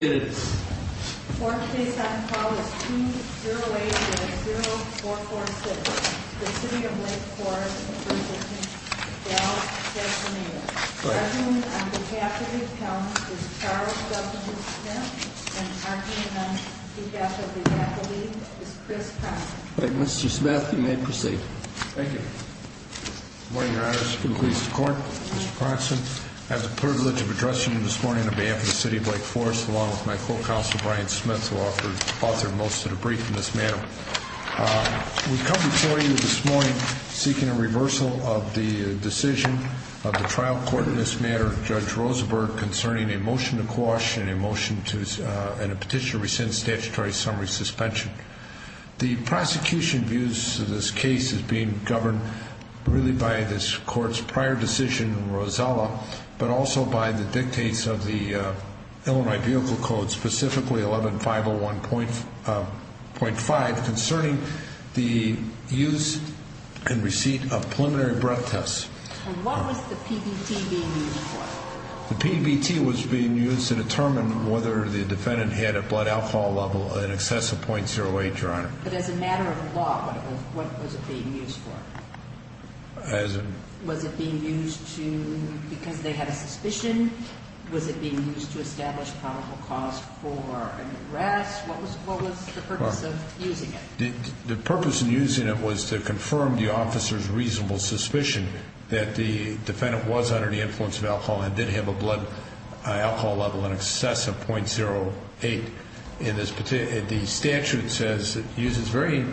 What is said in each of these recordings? The court case on call is 208-0446, the City of Lake Forest v. Castaneda. Judging on behalf of the appellant is Charles W. Smith and arguing on behalf of the appellate is Chris Pronson. Mr. Smith, you may proceed. Thank you. Good morning, your honors. Good morning. Mr. Court, Mr. Pronson, I have the privilege of addressing you this morning on behalf of the City of Lake Forest, along with my co-counsel, Brian Smith, who authored most of the brief in this matter. We've come before you this morning seeking a reversal of the decision of the trial court in this matter, Judge Rosenberg, concerning a motion to quash and a petition to rescind statutory summary suspension. The prosecution views this case as being governed really by this court's prior decision in Rosella, but also by the dictates of the Illinois Vehicle Code, specifically 11501.5, concerning the use and receipt of preliminary breath tests. And what was the PBT being used for? The PBT was being used to determine whether the defendant had a blood alcohol level in excess of .08, your honor. But as a matter of law, what was it being used for? As a... Was it being used to, because they had a suspicion? Was it being used to establish probable cause for an arrest? What was the purpose of using it? The purpose of using it was to confirm the officer's reasonable suspicion that the defendant was under the influence of alcohol and did have a blood alcohol level in excess of .08. The statute says, uses very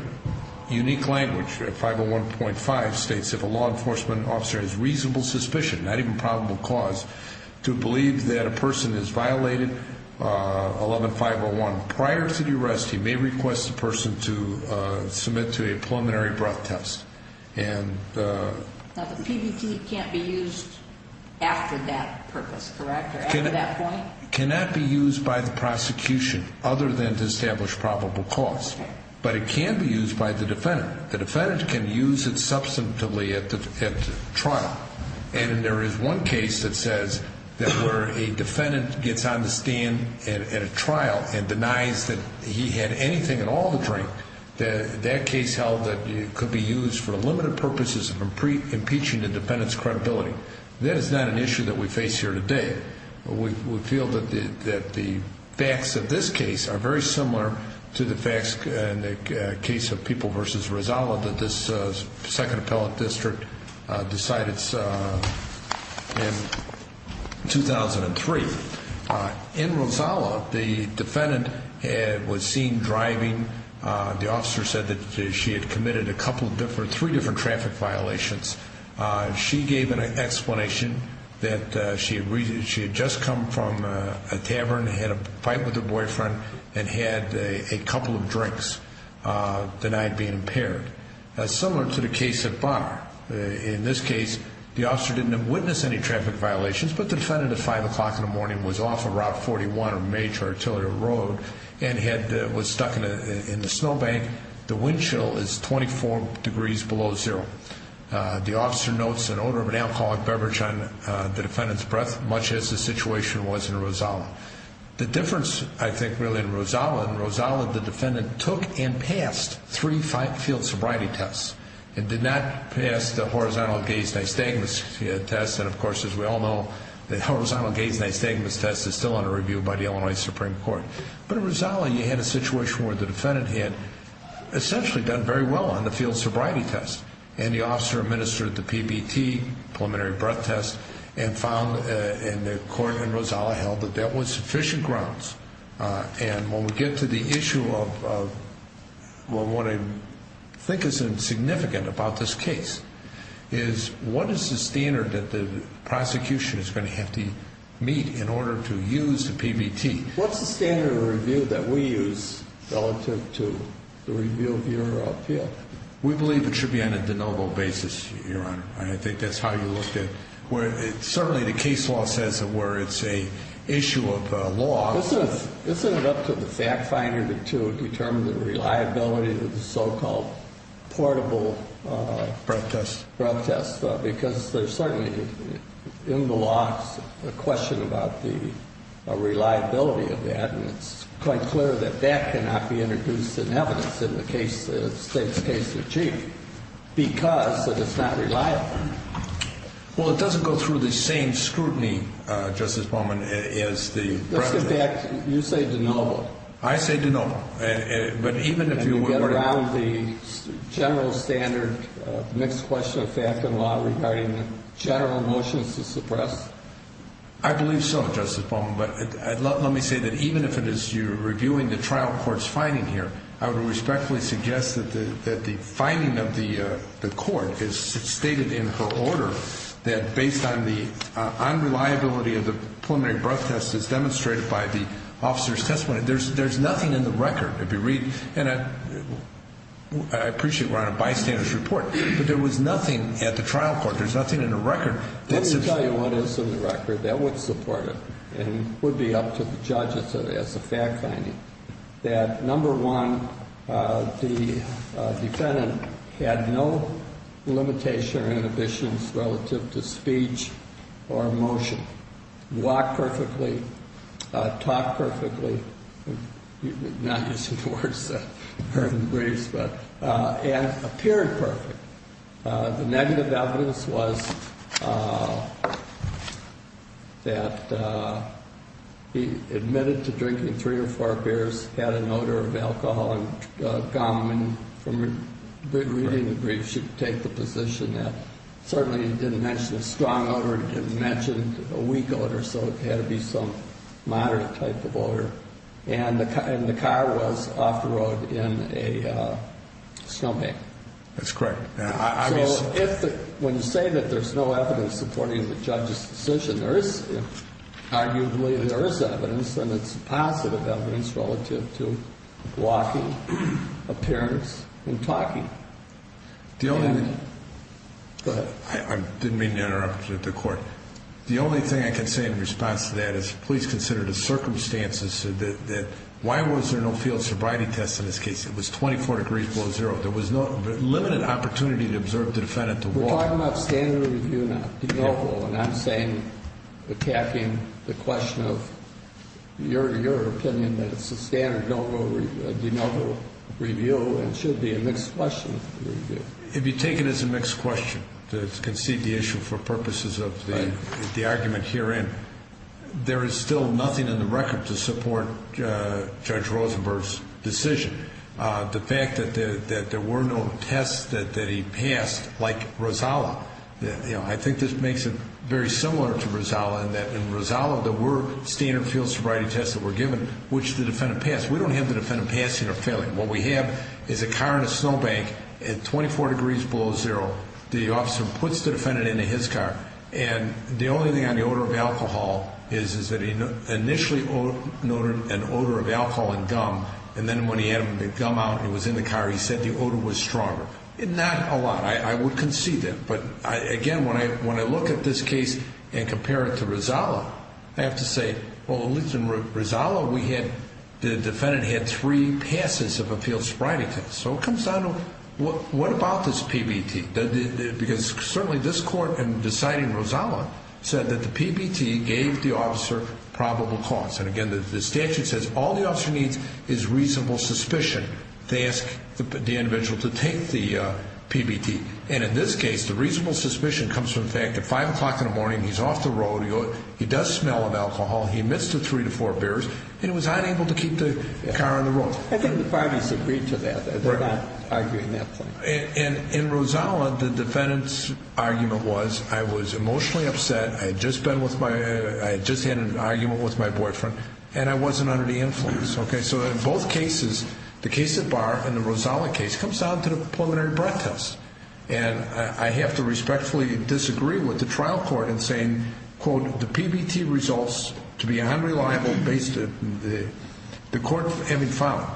unique language, 501.5, states if a law enforcement officer has reasonable suspicion, not even probable cause, to believe that a person has violated 11501. Prior to the arrest, he may request the person to submit to a preliminary breath test. And... Now, the PBT can't be used after that purpose, correct, or after that point? It cannot be used by the prosecution other than to establish probable cause. But it can be used by the defendant. The defendant can use it substantively at the trial. And there is one case that says that where a defendant gets on the stand at a trial and denies that he had anything at all to drink, that case held that it could be used for limited purposes of impeaching the defendant's credibility. That is not an issue that we face here today. We feel that the facts of this case are very similar to the facts in the case of People v. Rizala that this second appellate district decided in 2003. In Rizala, the defendant was seen driving. The officer said that she had committed three different traffic violations. She gave an explanation that she had just come from a tavern, had a fight with her boyfriend, and had a couple of drinks the night being impaired. Similar to the case at Bonner. In this case, the officer didn't witness any traffic violations, but the defendant at 5 o'clock in the morning was off of Route 41 or Major Artillery Road and was stuck in the snowbank. The wind chill is 24 degrees below zero. The officer notes an odor of an alcoholic beverage on the defendant's breath, much as the situation was in Rizala. The difference, I think, really in Rizala, in Rizala the defendant took and passed three field sobriety tests and did not pass the horizontal gaze nystagmus test. And, of course, as we all know, the horizontal gaze nystagmus test is still under review by the Illinois Supreme Court. But in Rizala you had a situation where the defendant had essentially done very well on the field sobriety test. And the officer administered the PBT, preliminary breath test, and found in the court in Rizala held that that was sufficient grounds. And when we get to the issue of what I think is significant about this case is what is the standard that the prosecution is going to have to meet in order to use the PBT? What's the standard of review that we use relative to the review of your appeal? We believe it should be on a de novo basis, Your Honor. I think that's how you looked at it. Certainly the case law says it where it's an issue of law. Isn't it up to the fact finder to determine the reliability of the so-called portable breath test? Because there's certainly in the law a question about the reliability of that, and it's quite clear that that cannot be introduced in evidence in the state's case of chief because that it's not reliable. Well, it doesn't go through the same scrutiny, Justice Bowman, as the president. In fact, you say de novo. I say de novo. And you get around the general standard mixed question of fact and law regarding general motions to suppress? I believe so, Justice Bowman. But let me say that even if it is you reviewing the trial court's finding here, I would respectfully suggest that the finding of the court is stated in her order that based on the unreliability of the preliminary breath test as demonstrated by the officer's testimony, there's nothing in the record that we read. And I appreciate we're on a bystander's report, but there was nothing at the trial court. There's nothing in the record. Let me tell you what is in the record that would support it and would be up to the judges as a fact finding, that, number one, the defendant had no limitation or inhibitions relative to speech or emotion, walked perfectly, talked perfectly, not using words that are in the briefs, but appeared perfect. The negative evidence was that he admitted to drinking three or four beers, had an odor of alcohol and gum, and from reading the briefs, should take the position that certainly he didn't mention a strong odor, didn't mention a weak odor, so it had to be some moderate type of odor. And the car was off the road in a snowbank. That's correct. So when you say that there's no evidence supporting the judge's decision, arguably there is evidence and it's positive evidence relative to walking, appearance, and talking. Go ahead. I didn't mean to interrupt the court. The only thing I can say in response to that is please consider the circumstances that why was there no field sobriety test in this case? It was 24 degrees below zero. There was no limited opportunity to observe the defendant to walk. We're talking about standard review, not de novo, and I'm saying attacking the question of your opinion that it's a standard de novo review and should be a mixed question review. It'd be taken as a mixed question to concede the issue for purposes of the argument herein. There is still nothing in the record to support Judge Rosenberg's decision. The fact that there were no tests that he passed, like Rosalla, I think this makes it very similar to Rosalla in that in Rosalla there were standard field sobriety tests that were given which the defendant passed. We don't have the defendant passing or failing. What we have is a car in a snowbank at 24 degrees below zero. The officer puts the defendant into his car, and the only thing on the odor of alcohol is that he initially noted an odor of alcohol and gum, and then when he had the gum out and it was in the car, he said the odor was stronger. Not a lot. I would concede that. But, again, when I look at this case and compare it to Rosalla, I have to say, well, at least in Rosalla the defendant had three passes of a field sobriety test. So it comes down to what about this PBT? Because certainly this court, in deciding Rosalla, said that the PBT gave the officer probable cause. And, again, the statute says all the officer needs is reasonable suspicion. They ask the individual to take the PBT. And in this case, the reasonable suspicion comes from the fact that at 5 o'clock in the morning, he's off the road, he does smell of alcohol, he emits to three to four beers, and he was unable to keep the car on the road. I think the parties agreed to that. They're not arguing that point. In Rosalla, the defendant's argument was I was emotionally upset, I had just had an argument with my boyfriend, and I wasn't under the influence. So in both cases, the case at Barr and the Rosalla case comes down to the preliminary broadcast. And I have to respectfully disagree with the trial court in saying, quote, the PBT results to be unreliable based on the court having filed it.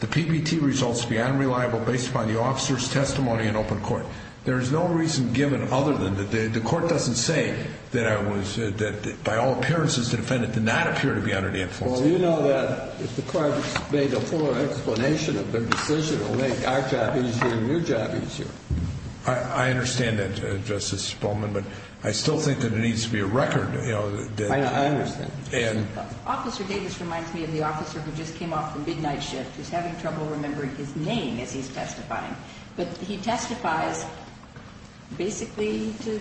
The PBT results to be unreliable based upon the officer's testimony in open court. There is no reason given other than that the court doesn't say that by all appearances, the defendant did not appear to be under the influence. Well, you know that if the court made a fuller explanation of their decision, it would make our job easier and your job easier. I understand that, Justice Bowman, but I still think that there needs to be a record. I understand. Officer Davis reminds me of the officer who just came off the midnight shift who's having trouble remembering his name as he's testifying. But he testifies basically to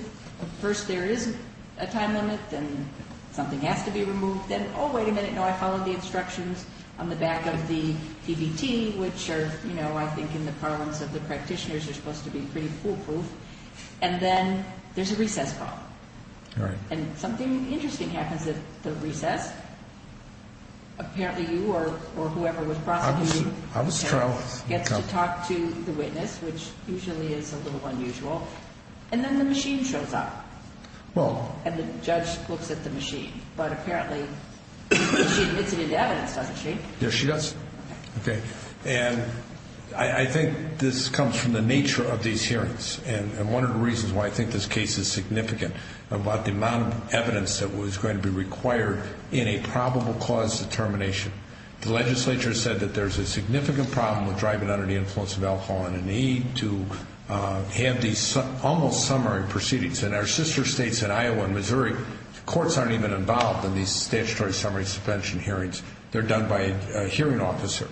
first there is a time limit and something has to be removed. Then, oh, wait a minute, no, I followed the instructions on the back of the PBT, which are, you know, I think in the parlance of the practitioners, they're supposed to be pretty foolproof. And then there's a recess call. All right. And something interesting happens at the recess. Apparently you or whoever was prosecuting gets to talk to the witness, which usually is a little unusual. And then the machine shows up. And the judge looks at the machine. But apparently she admits it into evidence, doesn't she? Yes, she does. Okay. And I think this comes from the nature of these hearings. And one of the reasons why I think this case is significant about the amount of evidence that was going to be required in a probable cause determination, the legislature said that there's a significant problem with driving under the influence of alcohol and a need to have these almost summary proceedings. And our sister states in Iowa and Missouri, courts aren't even involved in these statutory summary suspension hearings. They're done by a hearing officer.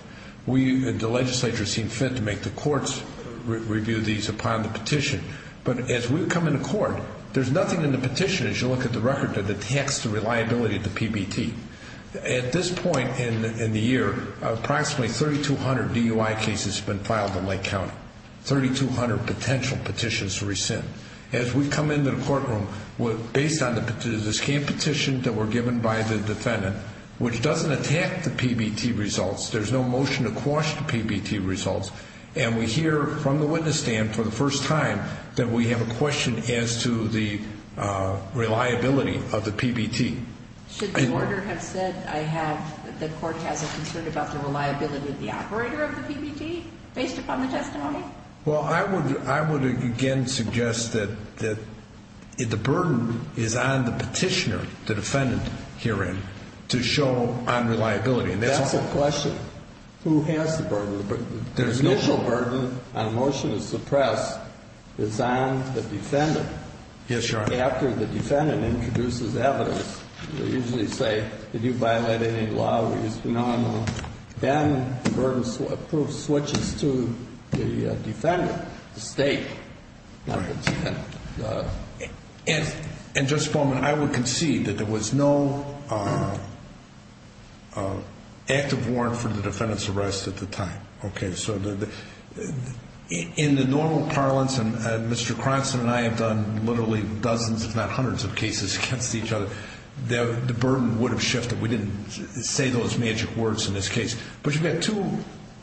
The legislature seemed fit to make the courts review these upon the petition. But as we come into court, there's nothing in the petition, as you look at the record, that attacks the reliability of the PBT. At this point in the year, approximately 3,200 DUI cases have been filed in Lake County, 3,200 potential petitions to rescind. As we come into the courtroom, based on the petition, the petition that were given by the defendant, which doesn't attack the PBT results, there's no motion to quash the PBT results, and we hear from the witness stand for the first time that we have a question as to the reliability of the PBT. Should the order have said I have, that the court has a concern about the reliability of the operator of the PBT, based upon the testimony? Well, I would again suggest that the burden is on the petitioner, the defendant herein, to show unreliability. That's a question. Who has the burden? The initial burden on a motion to suppress is on the defendant. Yes, Your Honor. After the defendant introduces evidence, they usually say, did you violate any law that used to be normal? Then the burden switches to the defendant, the state. And, Justice Bowman, I would concede that there was no active warrant for the defendant's arrest at the time. Okay? So in the normal parlance, and Mr. Cranston and I have done literally dozens if not hundreds of cases against each other, the burden would have shifted. We didn't say those magic words in this case. But you've got two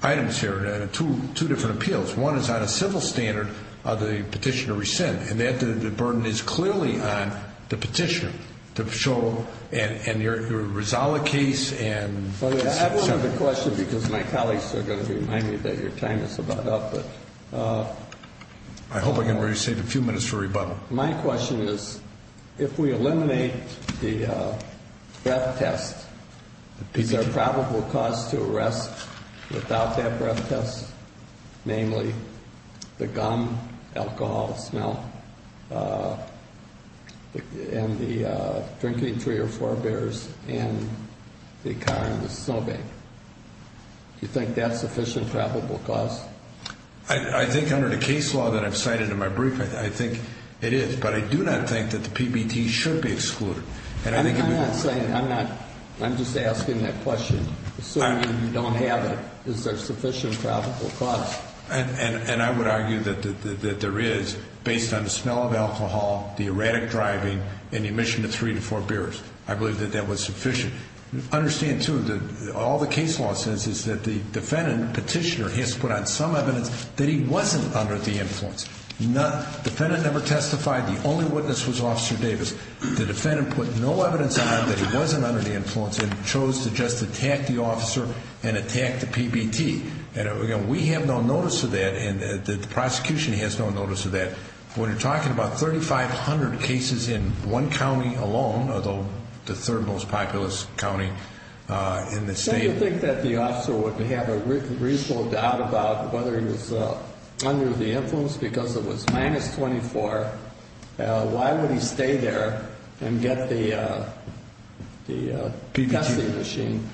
items here, two different appeals. One is on a civil standard of the petitioner rescind, and that the burden is clearly on the petitioner to show, and your Rizala case and the second. I don't have a question because my colleagues are going to remind me that your time is about up. I hope I can save a few minutes for rebuttal. My question is, if we eliminate the breath test, is there a probable cause to arrest without that breath test? Namely, the gum, alcohol smell, and the drinking three or four beers, and the car in the snowbank. Do you think that's a sufficient probable cause? I think under the case law that I've cited in my brief, I think it is. But I do not think that the PBT should be excluded. I'm not saying, I'm not, I'm just asking that question. Assuming you don't have it, is there sufficient probable cause? And I would argue that there is, based on the smell of alcohol, the erratic driving, and the emission of three to four beers. I believe that that was sufficient. Understand too, all the case law says is that the defendant, petitioner, has to put on some evidence that he wasn't under the influence. The defendant never testified. The only witness was Officer Davis. The defendant put no evidence on him that he wasn't under the influence and chose to just attack the officer and attack the PBT. And again, we have no notice of that, and the prosecution has no notice of that. When you're talking about 3,500 cases in one county alone, although the third most populous county in the state. So you think that the officer would have a reasonable doubt about whether he was under the influence because it was minus 24. Why would he stay there and get the testing machine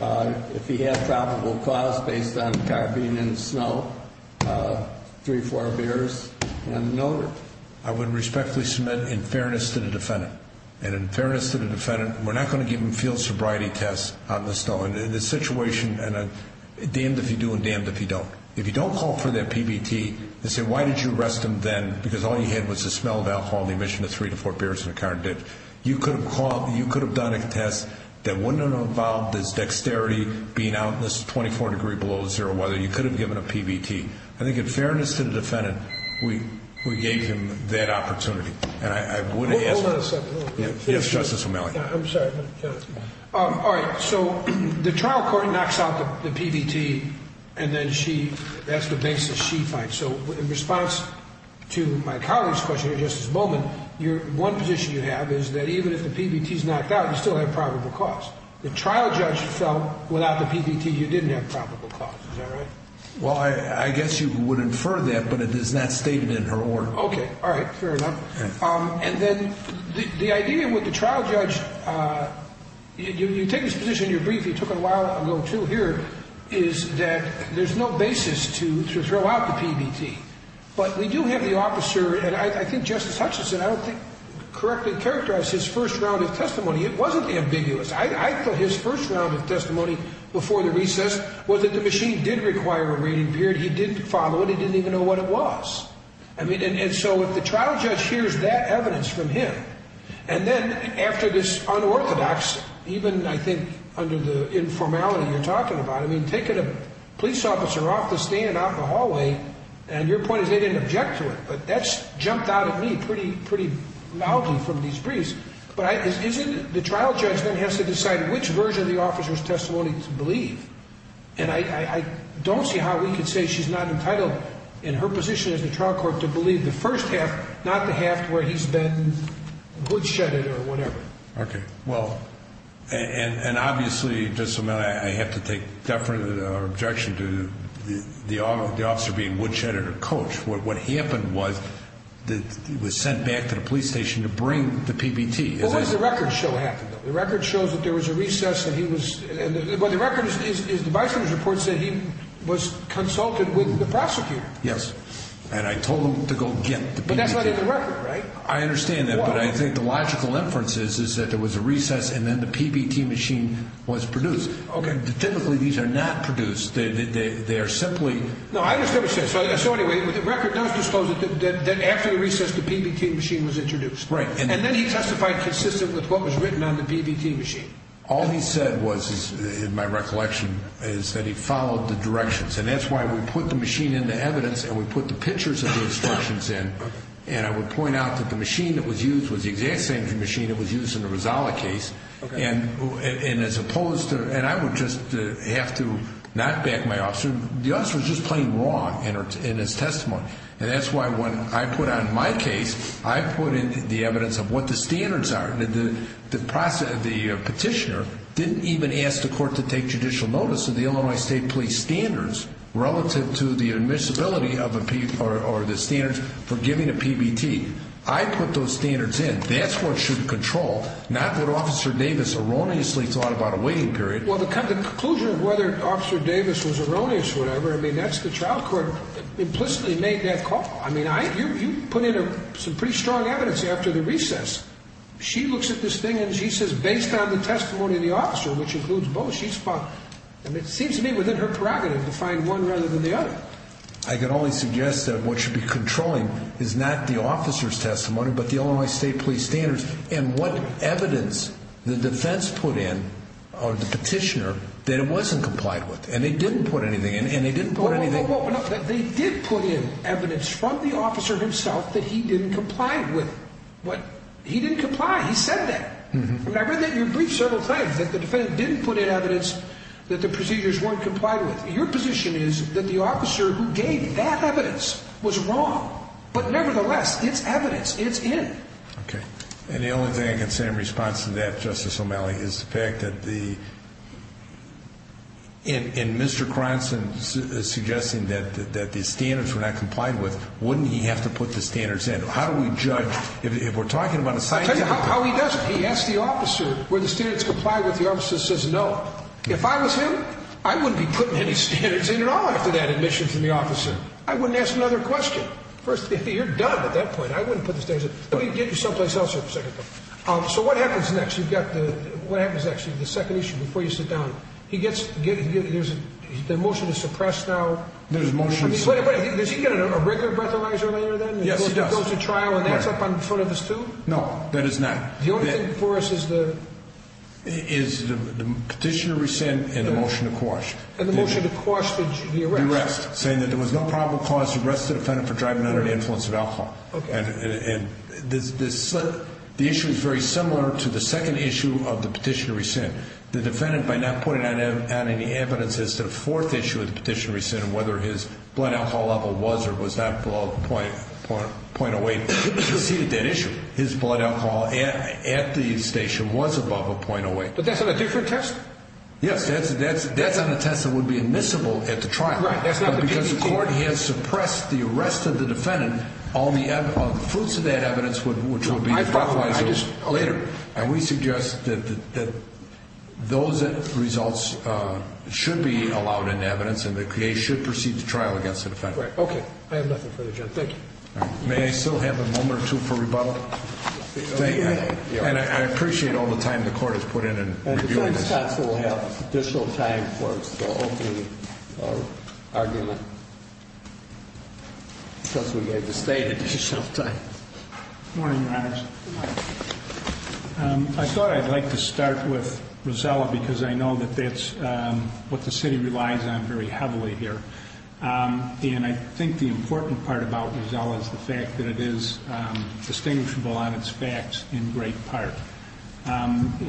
if he had probable cause based on car being in the snow, three, four beers, and an odor? I would respectfully submit, in fairness to the defendant, and in fairness to the defendant, we're not going to give him field sobriety tests out in the snow. And in this situation, damned if you do and damned if you don't. If you don't call for that PBT and say, why did you arrest him then, because all he had was the smell of alcohol and the emission of three to four beers in a car, you could have done a test that wouldn't have involved his dexterity being out in this 24 degree below zero weather. You could have given a PBT. I think in fairness to the defendant, we gave him that opportunity. Hold on a second. Yes, Justice O'Malley. I'm sorry. All right, so the trial court knocks out the PBT, and then she has the basis she finds. So in response to my colleague's question here, Justice Bowman, one position you have is that even if the PBT is knocked out, you still have probable cause. The trial judge felt without the PBT, you didn't have probable cause. Is that right? Well, I guess you would infer that, but it is not stated in her order. Okay. All right. Fair enough. And then the idea with the trial judge, you take this position, you're brief, you took it a while ago too here, is that there's no basis to throw out the PBT. But we do have the officer, and I think Justice Hutchinson, I don't think correctly characterized his first round of testimony. It wasn't ambiguous. I thought his first round of testimony before the recess was that the machine did require a reading period. He didn't follow it. He didn't even know what it was. And so if the trial judge hears that evidence from him, and then after this unorthodox, even I think under the informality you're talking about, I mean taking a police officer off the stand out in the hallway, and your point is they didn't object to it. But that's jumped out at me pretty loudly from these briefs. But isn't the trial judge then has to decide which version of the officer's testimony to believe. And I don't see how we could say she's not entitled in her position as the trial court to believe the first half, not the half where he's been hoodshedded or whatever. Okay. Well, and obviously, I have to take deference or objection to the officer being hoodshedded or coached. What happened was that he was sent back to the police station to bring the PBT. But what does the record show happened? The record shows that there was a recess and he was, well the record is the vice governor's report said he was consulted with the prosecutor. Yes. And I told him to go get the PBT. But that's not in the record, right? I understand that. But I think the logical inference is, is that there was a recess and then the PBT machine was produced. Okay. Typically these are not produced. They are simply. No, I understand. So anyway, the record does disclose that after the recess, the PBT machine was introduced. Right. And then he testified consistent with what was written on the PBT machine. All he said was, in my recollection is that he followed the directions. And that's why we put the machine into evidence and we put the pictures of the instructions in. Okay. And I would point out that the machine that was used was the exact same machine that was used in the Rizala case. Okay. And as opposed to, and I would just have to knock back my officer. The officer was just plain wrong in his testimony. And that's why when I put on my case, I put in the evidence of what the standards are. The petitioner didn't even ask the court to take judicial notice of the Illinois State Police standards relative to the admissibility or the standards for giving a PBT. I put those standards in. That's what should control, not what officer Davis erroneously thought about a waiting period. Well, the conclusion of whether officer Davis was erroneous, whatever, I mean, that's the trial court implicitly made that call. I mean, I, you, you put in some pretty strong evidence after the recess. She looks at this thing and she says, based on the testimony of the officer, which includes both, she's fun. And it seems to me within her prerogative to find one rather than the other. I can only suggest that what should be controlling is not the officer's testimony, but the Illinois State Police standards and what evidence the defense put in on the petitioner that it wasn't complied with. And they didn't put anything in and they didn't put anything. They did put in evidence from the officer himself that he didn't comply with what he didn't comply. He said that. I read that in your brief several times that the defendant didn't put in evidence that the procedures weren't complied with. Your position is that the officer who gave that evidence was wrong, but nevertheless, it's evidence. It's in. Okay. And the only thing I can say in response to that justice O'Malley is the fact that the, in, in Mr. Cranston is suggesting that, that the standards were not complied with. Wouldn't he have to put the standards in? How do we judge? If we're talking about a site, how he does it. He asked the officer where the students comply with. The officer says, no, if I was him, I wouldn't be putting any standards in at all after that admission from the officer. I wouldn't ask another question. First, you're done at that point. I wouldn't put the standards in. Let me get you someplace else for a second. So what happens next? You've got the, what happens actually the second issue before you sit down, he gets, there's the motion to suppress now. There's motion. Wait, wait, does he get a regular breathalyzer later then? He goes to trial and that's up in front of us too? No, that is not. The only thing for us is the, is the petition to rescind and the motion to quash. And the motion to quash the arrest, saying that there was no probable cause to arrest the defendant for driving under the influence of alcohol. Okay. And this, this, the issue is very similar to the second issue of the petition to rescind the defendant by not putting out any evidence as to the fourth issue of the petition rescind, whether his blood alcohol level was, or was not below the point, point, point of weight. Is he a dead issue? His blood alcohol at the station was above a point of weight. But that's on a different test. Yes, that's, that's, that's on a test that would be admissible at the trial. Right. That's not because the court has suppressed the arrest of the defendant. All the fruits of that evidence would, which would be later. And we suggest that, that those results should be allowed in evidence and the case should proceed to trial against the defendant. Right. Okay. I have nothing further. Jim. Thank you. May I still have a moment or two for rebuttal? And I appreciate all the time. The court has put in and. We'll have additional time for the opening argument. Because we gave the state additional time. Morning, Your Honor. I thought I'd like to start with Rosella because I know that that's what the city relies on very heavily here. And I think the important part about Rosella is the fact that it is distinguishable on its facts in great part.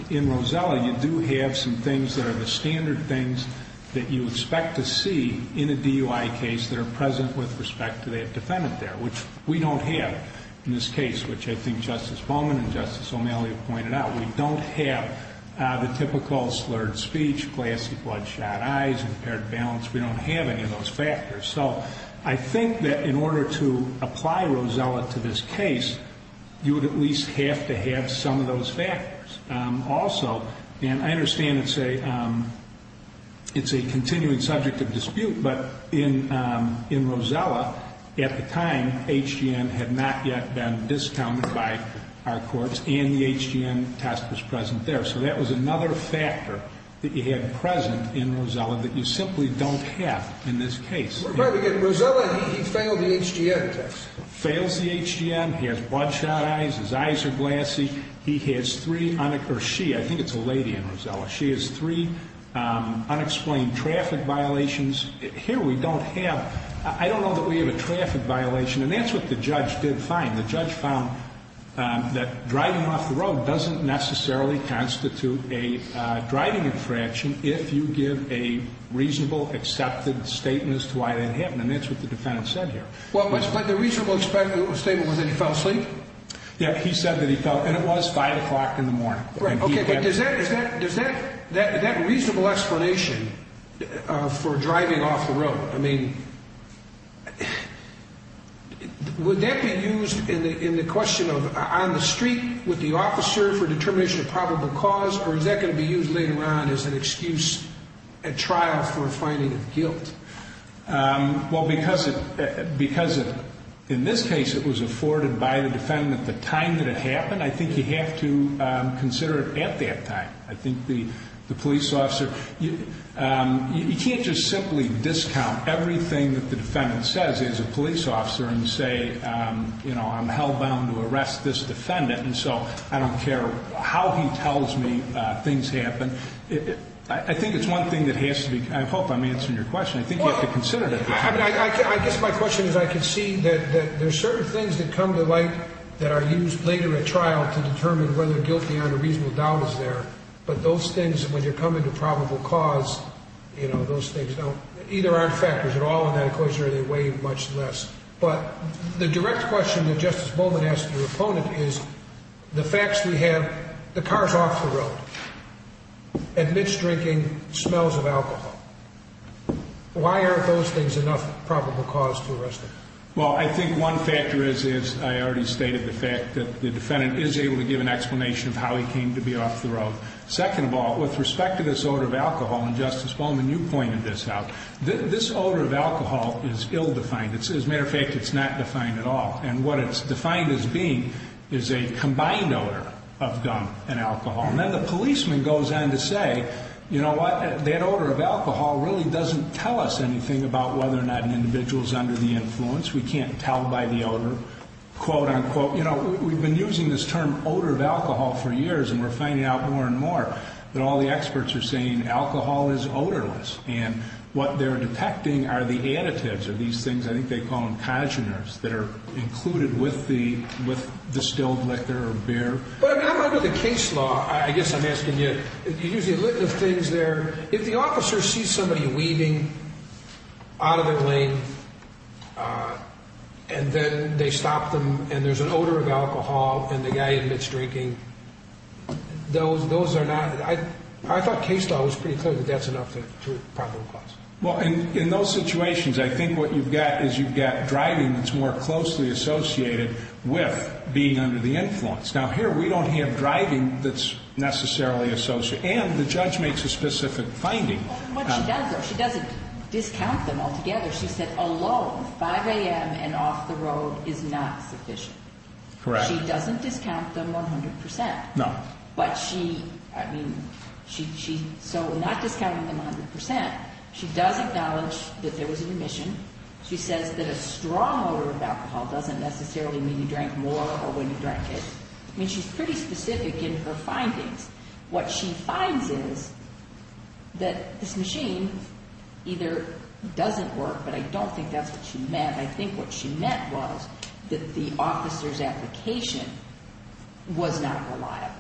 In Rosella, you do have some things that are the standard things that you expect to see in a DUI case that are present with respect to that defendant there, which we don't have in this case, which I think Justice Bowman and Justice O'Malley pointed out. We don't have the typical slurred speech, glassy bloodshot eyes, impaired balance. We don't have any of those factors. So I think that in order to apply Rosella to this case, you would at least have to have some of those factors also. And I understand it's a continuing subject of dispute. But in Rosella, at the time, HGN had not yet been discounted by our courts and the HGN test was present there. So that was another factor that you had present in Rosella that you simply don't have in this case. We're trying to get Rosella. He failed the HGN test. Fails the HGN. He has bloodshot eyes. His eyes are glassy. He has three, or she, I think it's a lady in Rosella. She has three unexplained traffic violations. Here we don't have, I don't know that we have a traffic violation. And that's what the judge did find. The judge found that driving off the road doesn't necessarily constitute a driving infraction if you give a reasonable, accepted statement as to why that happened. And that's what the defendant said here. Well, but the reasonable statement was that he fell asleep. Yeah. He said that he fell, and it was five o'clock in the morning. Right. Okay. Does that, does that, that reasonable explanation for driving off the road, I mean, would that be used in the, in the question of on the street with the officer for determination of probable cause, or is that going to be used later on as an excuse at trial for a finding of guilt? Well, because, because in this case it was afforded by the defendant at the time that it happened, I think you have to consider it at that time. I think the, the police officer, you can't just simply discount everything that the defendant says as a police officer and say, you know, I'm hell bound to arrest this defendant, and so I don't care how he tells me things happen. I think it's one thing that has to be, I hope I'm answering your question. I think you have to consider that. I guess my question is I can see that there's certain things that come to light that are used later at trial to determine whether guilt beyond a reasonable doubt is there. But those things, when you're coming to probable cause, you know, those things don't, either aren't factors at all in that equation or they weigh much less. But the direct question that Justice Bowman asked your opponent is, the facts we have, the car's off the road, admits drinking, smells of alcohol. Why aren't those things enough probable cause to arrest him? Well, I think one factor is, as I already stated, the fact that the defendant is able to give an explanation of how he came to be off the road. Second of all, with respect to this odor of alcohol, and Justice Bowman, you pointed this out, this odor of alcohol is ill defined. As a matter of fact, it's not defined at all. And what it's defined as being is a combined odor of gum and alcohol. And then the policeman goes on to say, you know what, that odor of alcohol really doesn't tell us anything about whether or not an individual is under the influence. We can't tell by the odor, quote unquote. You know, we've been using this term odor of alcohol for years, and we're finding out more and more that all the experts are saying alcohol is odorless. And what they're detecting are the additives of these things, I think they call them congeners, that are included with the distilled liquor or beer. But under the case law, I guess I'm asking you, you're using a litany of things there. If the officer sees somebody weaving out of their lane, and then they stop them, and there's an odor of alcohol, and the guy admits drinking, those are not, I thought case law was pretty clear that that's enough to problem cause. Well, in those situations, I think what you've got is you've got driving that's more closely associated with being under the influence. Now, here we don't have driving that's necessarily associated, and the judge makes a specific finding. What she does though, she doesn't discount them altogether. She said alone, 5 a.m. and off the road is not sufficient. Correct. She doesn't discount them 100%. No. But she, I mean, so not discounting them 100%, she does acknowledge that there was an emission. She says that a strong odor of alcohol doesn't necessarily mean you drank more or when you drank it. I mean, she's pretty specific in her findings. What she finds is that this machine either doesn't work, but I don't think that's what she meant. I think what she meant was that the officer's application was not reliable.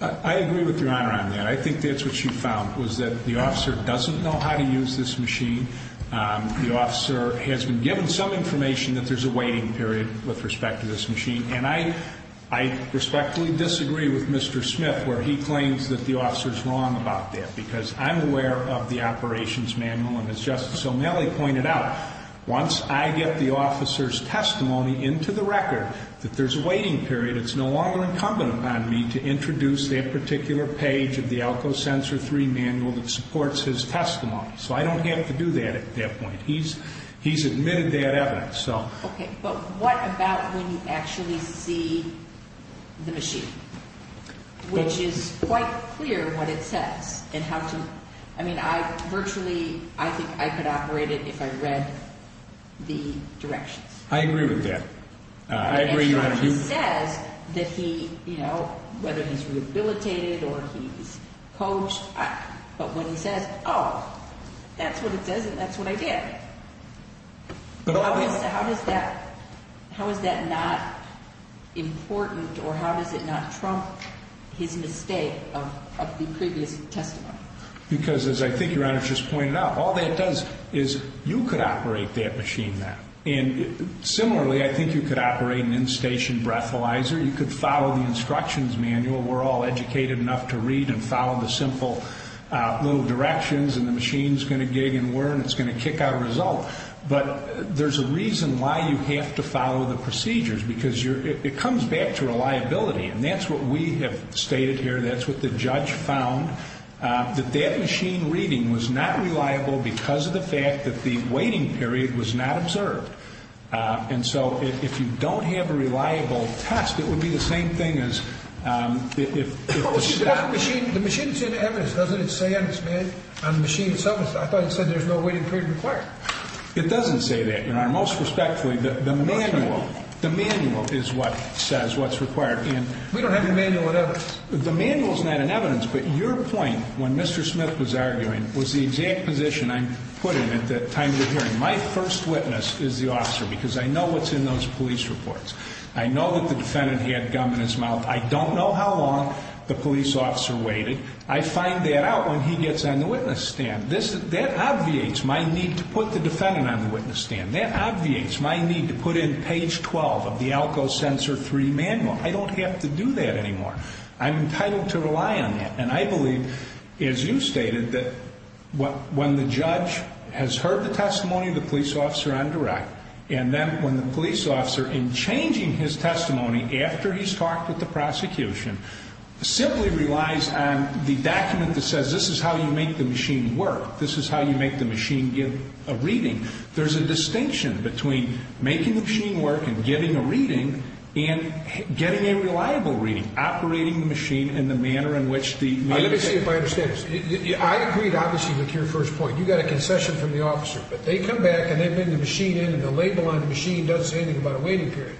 I agree with Your Honor on that. I think that's what she found was that the officer doesn't know how to use this machine. The officer has been given some information that there's a waiting period with respect to this machine, and I respectfully disagree with Mr. Smith where he claims that the officer's wrong about that because I'm aware of the operations manual, and as Justice O'Malley pointed out, once I get the officer's testimony into the record that there's a waiting period, it's no longer incumbent upon me to introduce that particular page of the ALCO Sensor 3 manual that supports his testimony. So I don't have to do that at that point. He's admitted that evidence. Okay, but what about when you actually see the machine, which is quite clear what it says and how to, I mean, I virtually, I think I could operate it if I read the directions. I agree with that. I agree, Your Honor. And so he says that he, you know, whether he's rehabilitated or he's coached, but when he says, oh, that's what it says and that's what I did. How is that not important, or how does it not trump his mistake of the previous testimony? Because as I think Your Honor just pointed out, all that does is you could operate that machine now. And similarly, I think you could operate an in-station breathalyzer. You could follow the instructions manual. We're all educated enough to read and follow the simple little directions, and the machine's going to gig and whir and it's going to kick out a result. But there's a reason why you have to follow the procedures, because it comes back to reliability. And that's what we have stated here. That's what the judge found, that that machine reading was not reliable because of the fact that the waiting period was not observed. And so if you don't have a reliable test, it would be the same thing as if it was stopped. The machine's in evidence, doesn't it say on the machine itself? I thought it said there's no waiting period required. It doesn't say that, Your Honor. Most respectfully, the manual is what says what's required. We don't have the manual in evidence. The manual's not in evidence, but your point, when Mr. Smith was arguing, was the exact position I'm putting at the time of the hearing. My first witness is the officer, because I know what's in those police reports. I know that the defendant had gum in his mouth. I don't know how long the police officer waited. I find that out when he gets on the witness stand. That obviates my need to put the defendant on the witness stand. That obviates my need to put in page 12 of the ALCO Censor III Manual. I don't have to do that anymore. I'm entitled to rely on that. And I believe, as you stated, that when the judge has heard the testimony of the police officer on direct, and then when the police officer, in changing his testimony after he's talked with the prosecution, simply relies on the document that says this is how you make the machine work, this is how you make the machine give a reading. There's a distinction between making the machine work and giving a reading and getting a reliable reading, operating the machine in the manner in which the manual says. Let me see if I understand this. I agreed, obviously, with your first point. You got a concession from the officer, but they come back and they bring the machine in, and the label on the machine doesn't say anything about a waiting period.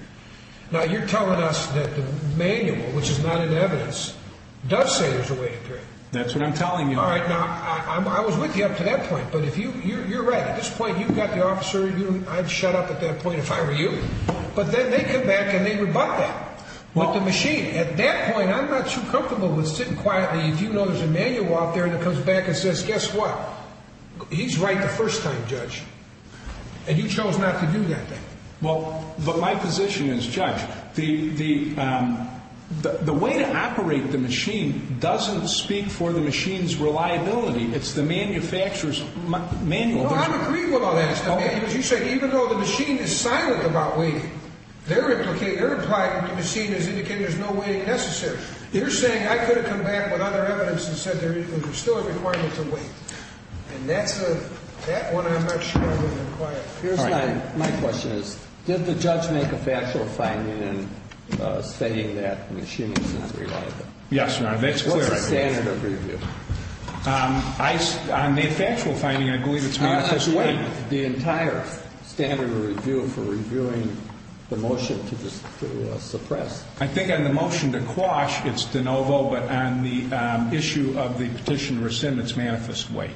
Now, you're telling us that the manual, which is not in evidence, does say there's a waiting period. That's what I'm telling you. All right, now, I was with you up to that point, but you're right. At this point, you've got the officer. I'd shut up at that point if I were you. But then they come back and they rebut that. But the machine, at that point, I'm not too comfortable with sitting quietly. If you know there's a manual out there that comes back and says, guess what, he's right the first time, Judge, and you chose not to do that thing. Well, but my position is, Judge, the way to operate the machine doesn't speak for the machine's reliability. It's the manufacturer's manual. No, I'm agreeing with all that. As you say, even though the machine is silent about waiting, they're implying that the machine is indicating there's no waiting necessary. You're saying I could have come back with other evidence and said there's still a requirement to wait. And that's the one I'm not sure I would have acquired. All right. My question is, did the judge make a factual finding in saying that the machine is not reliable? Yes, Your Honor, that's clear. What's the standard of review? On the factual finding, I believe it's manual. Wait. The entire standard of review for reviewing the motion to suppress. I think on the motion to quash, it's de novo, but on the issue of the petition to rescind, it's manifest wait.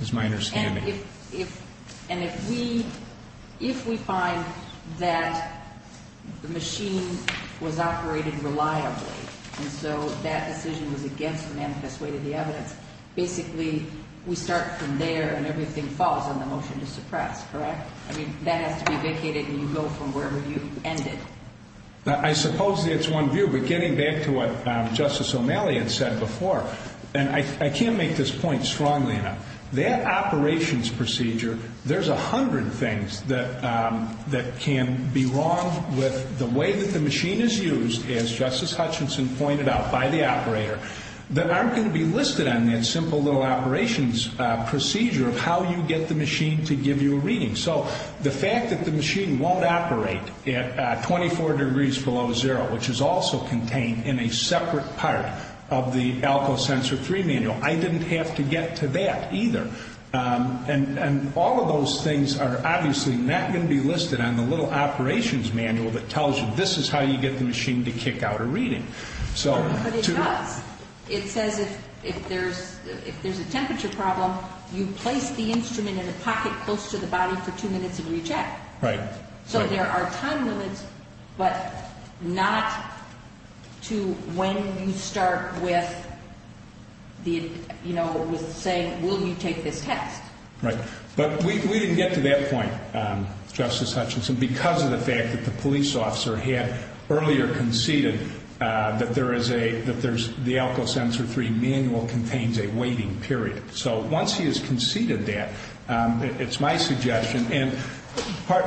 It's minor scamming. And if we find that the machine was operated reliably, and so that decision was against the manifest wait of the evidence, basically we start from there and everything falls on the motion to suppress, correct? I mean, that has to be vacated and you go from where you ended. I suppose that's one view, but getting back to what Justice O'Malley had said before, and I can't make this point strongly enough, that operations procedure, there's a hundred things that can be wrong with the way that the machine is used, that aren't going to be listed on that simple little operations procedure of how you get the machine to give you a reading. So the fact that the machine won't operate at 24 degrees below zero, which is also contained in a separate part of the ALCO Sensor 3 manual, I didn't have to get to that either. And all of those things are obviously not going to be listed on the little operations manual that tells you this is how you get the machine to kick out a reading. But it does. It says if there's a temperature problem, you place the instrument in a pocket close to the body for two minutes and recheck. Right. So there are time limits, but not to when you start with saying will you take this test. Right. But we didn't get to that point, Justice Hutchinson, because of the fact that the police officer had earlier conceded that the ALCO Sensor 3 manual contains a waiting period. So once he has conceded that, it's my suggestion. And the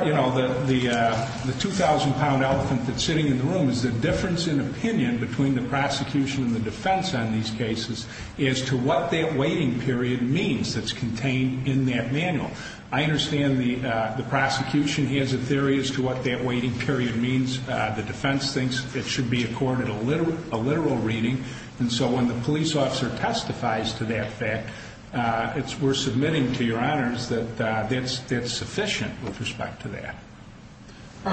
2,000-pound elephant that's sitting in the room is the difference in opinion between the prosecution and the defense on these cases as to what that waiting period means that's contained in that manual. I understand the prosecution has a theory as to what that waiting period means. The defense thinks it should be accorded a literal reading. And so when the police officer testifies to that fact, we're submitting to your honors that that's sufficient with respect to that.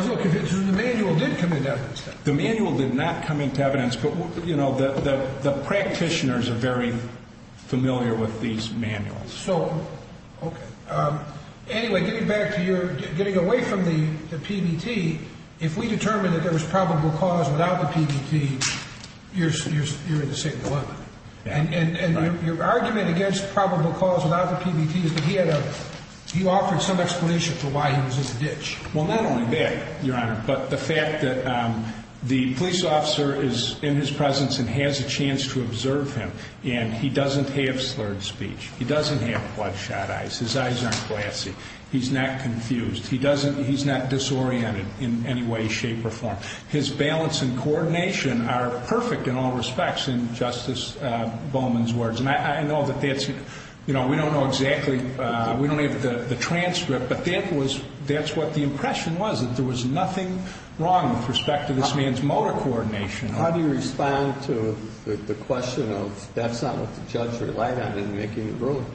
Look, the manual did come into evidence, though. The manual did not come into evidence, but the practitioners are very familiar with these manuals. Anyway, getting away from the PBT, if we determine that there was probable cause without the PBT, you're in the same dilemma. And your argument against probable cause without the PBT is that he offered some explanation for why he was in the ditch. Well, not only that, Your Honor, but the fact that the police officer is in his presence and has a chance to observe him, and he doesn't have slurred speech, he doesn't have bloodshot eyes, his eyes aren't glassy, he's not confused, he's not disoriented in any way, shape, or form. His balance and coordination are perfect in all respects, in Justice Bowman's words. And I know that that's, you know, we don't know exactly, we don't have the transcript, but that's what the impression was, that there was nothing wrong with respect to this man's motor coordination. How do you respond to the question of that's not what the judge relied on in making the ruling?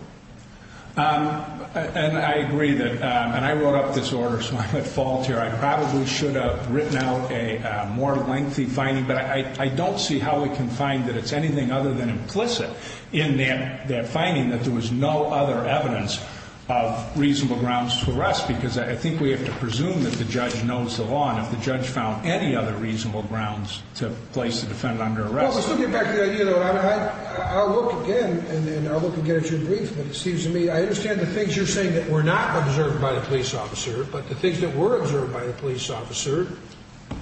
And I agree that, and I wrote up this order, so I'm at fault here. I probably should have written out a more lengthy finding, but I don't see how we can find that it's anything other than implicit in that finding that there was no other evidence of reasonable grounds to arrest, because I think we have to presume that the judge knows the law, and if the judge found any other reasonable grounds to place the defendant under arrest. Well, let's look back at the idea, though. I'll look again, and I'll look again at your brief, but it seems to me, I understand the things you're saying that were not observed by the police officer, but the things that were observed by the police officer,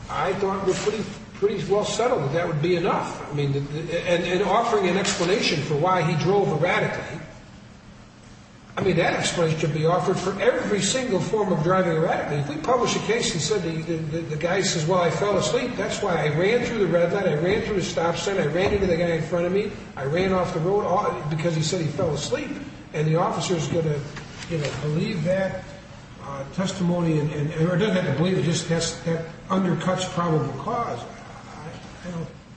I thought were pretty well settled, that that would be enough. I mean, and offering an explanation for why he drove erratically, I mean, that explanation could be offered for every single form of driving erratically. If we publish a case and said the guy says, well, I fell asleep, that's why I ran through the red light, I ran through the stop sign, I ran into the guy in front of me, I ran off the road, because he said he fell asleep, and the officer's going to believe that testimony, or doesn't have to believe it, just that undercuts probable cause.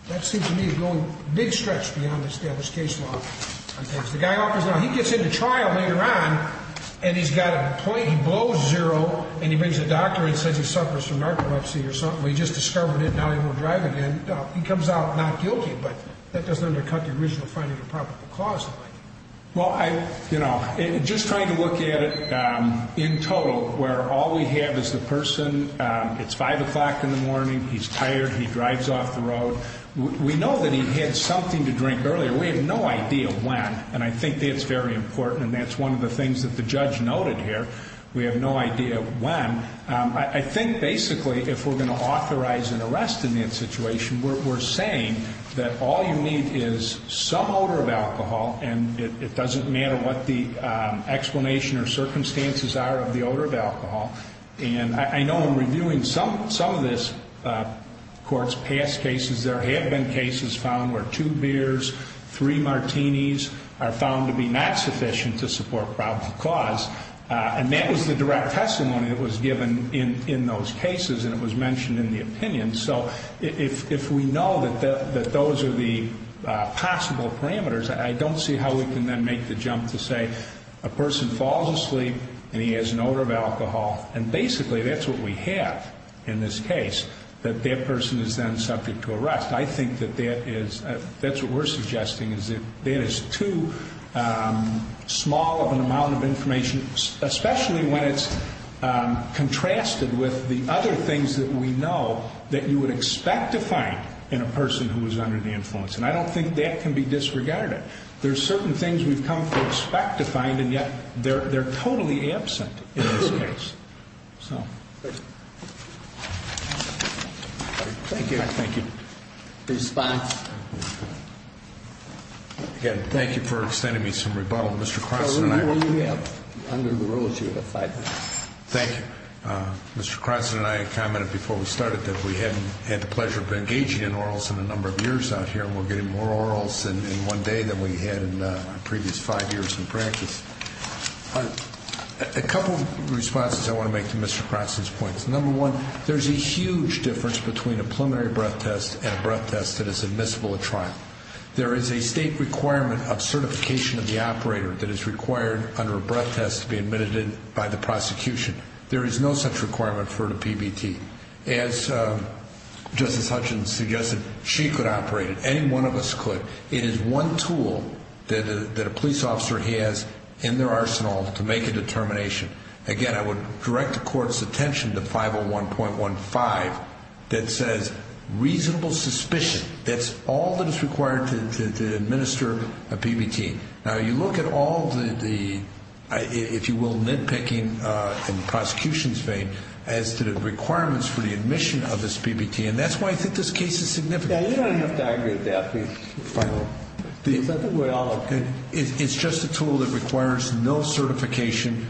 That seems to me is going a big stretch beyond the status case law. The guy gets into trial later on, and he's got a point, he blows zero, and he brings a doctor and says he suffers from narcolepsy or something, well, he just discovered it, now he won't drive again, he comes out not guilty, but that doesn't undercut the original finding of probable cause. Well, you know, just trying to look at it in total, where all we have is the person, it's 5 o'clock in the morning, he's tired, he drives off the road, we know that he had something to drink earlier, we have no idea when, and I think that's very important, and that's one of the things that the judge noted here, we have no idea when. I think basically if we're going to authorize an arrest in that situation, we're saying that all you need is some odor of alcohol, and it doesn't matter what the explanation or circumstances are of the odor of alcohol, and I know in reviewing some of this court's past cases, there have been cases found where two beers, three martinis, are found to be not sufficient to support probable cause, and that was the direct testimony that was given in those cases, and it was mentioned in the opinion, so if we know that those are the possible parameters, I don't see how we can then make the jump to say a person falls asleep and he has an odor of alcohol, and basically that's what we have in this case, that that person is then subject to arrest. I think that that is, that's what we're suggesting, is that that is too small of an amount of information, especially when it's contrasted with the other things that we know that you would expect to find in a person who was under the influence, and I don't think that can be disregarded. There are certain things we've come to expect to find, and yet they're totally absent in this case. So. Thank you. Thank you. The response? Again, thank you for extending me some rebuttal. Mr. Croson and I. Under the rules, you have five minutes. Thank you. Mr. Croson and I commented before we started that we hadn't had the pleasure of engaging in orals in a number of years out here, and we're getting more orals in one day than we had in the previous five years in practice. A couple of responses I want to make to Mr. Croson's points. Number one, there's a huge difference between a preliminary breath test and a breath test that is admissible at trial. There is a state requirement of certification of the operator that is required under a breath test to be admitted by the prosecution. There is no such requirement for the PBT. As Justice Hutchins suggested, she could operate it. Any one of us could. It is one tool that a police officer has in their arsenal to make a determination. Again, I would direct the Court's attention to 501.15 that says reasonable suspicion. That's all that is required to administer a PBT. Now, you look at all the, if you will, nitpicking in the prosecution's vein as to the requirements for the admission of this PBT, and that's why I think this case is significant. You don't have to argue with that. It's just a tool that requires no certification,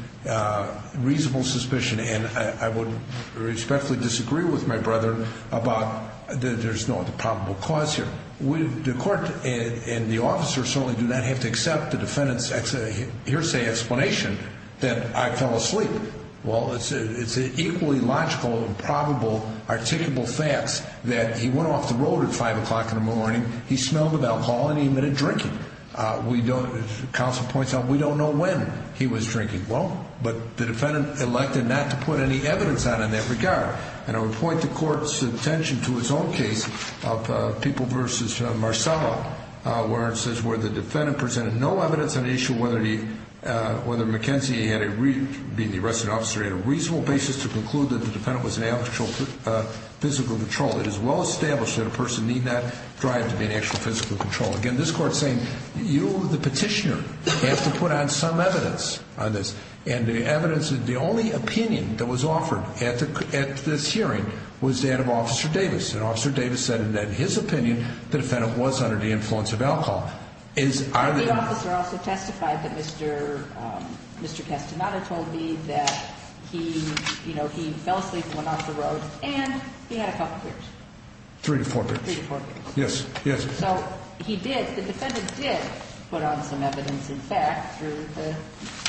reasonable suspicion, and I would respectfully disagree with my brother about that there's no other probable cause here. The Court and the officer certainly do not have to accept the defendant's hearsay explanation that I fell asleep. Well, it's equally logical and probable, articulable facts that he went off the road at 5 o'clock in the morning, he smelled of alcohol, and he admitted drinking. Counsel points out we don't know when he was drinking. Well, but the defendant elected not to put any evidence on in that regard. And I would point the Court's attention to its own case of People v. Marcella, where it says where the defendant presented no evidence on the issue of whether McKenzie, being the arresting officer, had a reasonable basis to conclude that the defendant was in actual physical control. It is well established that a person need not drive to be in actual physical control. Again, this Court is saying you, the petitioner, have to put on some evidence on this, and the evidence, the only opinion that was offered at this hearing was that of Officer Davis, and Officer Davis said that in his opinion the defendant was under the influence of alcohol. And the officer also testified that Mr. Castaneda told me that he fell asleep, went off the road, and he had a couple beers. Three to four beers. Three to four beers. Yes, yes. So he did, the defendant did put on some evidence, in fact, through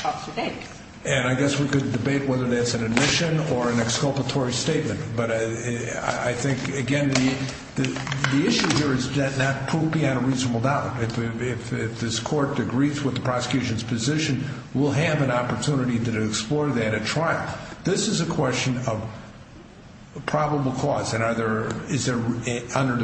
Officer Davis. And I guess we could debate whether that's an admission or an exculpatory statement, but I think, again, the issue here is does that not prove beyond a reasonable doubt. If this Court agrees with the prosecution's position, we'll have an opportunity to explore that at trial. This is a question of probable cause, and under the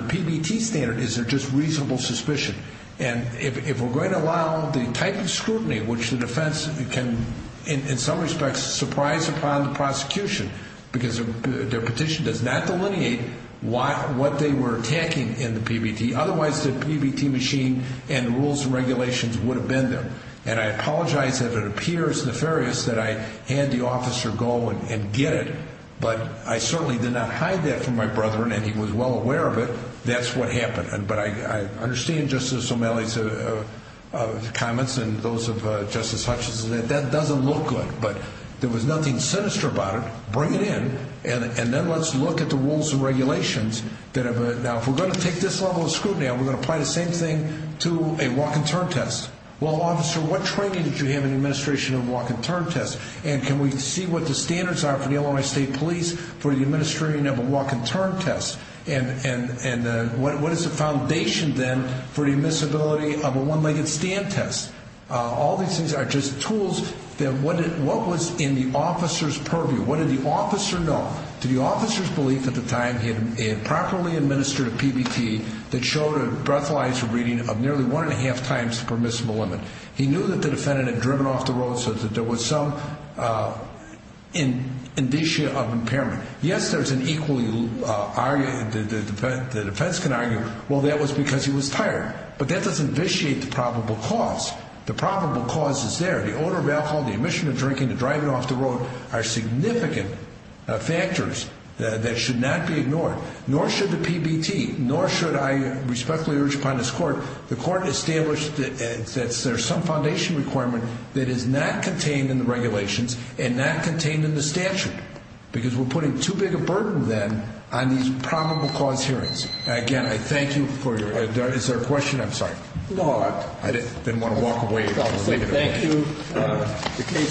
PBT standard, is there just reasonable suspicion? And if we're going to allow the type of scrutiny which the defense can, in some respects, surprise upon the prosecution because their petition does not delineate what they were attacking in the PBT, otherwise the PBT machine and rules and regulations would have been there. And I apologize if it appears nefarious that I hand the officer a goal and get it, but I certainly did not hide that from my brother, and he was well aware of it. That's what happened. But I understand Justice O'Malley's comments and those of Justice Hutchinson. That doesn't look good, but there was nothing sinister about it. Bring it in, and then let's look at the rules and regulations. Now, if we're going to take this level of scrutiny, are we going to apply the same thing to a walk-and-turn test? Well, officer, what training did you have in the administration of a walk-and-turn test? And can we see what the standards are for the Illinois State Police for the administering of a walk-and-turn test? And what is the foundation, then, for the admissibility of a one-legged stand test? All these things are just tools. What was in the officer's purview? What did the officer know? Did the officer's belief at the time he had properly administered a PBT that showed a breathalyzer reading of nearly one-and-a-half times the permissible limit? He knew that the defendant had driven off the road so that there was some indicia of impairment. Yes, there's an equally argued, the defense can argue, well, that was because he was tired. But that doesn't vitiate the probable cause. The probable cause is there. The odor of alcohol, the admission of drinking, the driving off the road are significant factors that should not be ignored. Nor should the PBT, nor should I respectfully urge upon this court, the court establish that there's some foundation requirement that is not contained in the regulations and not contained in the statute because we're putting too big a burden, then, on these probable cause hearings. Again, I thank you for your, is there a question? I'm sorry. No. I didn't want to walk away. Thank you.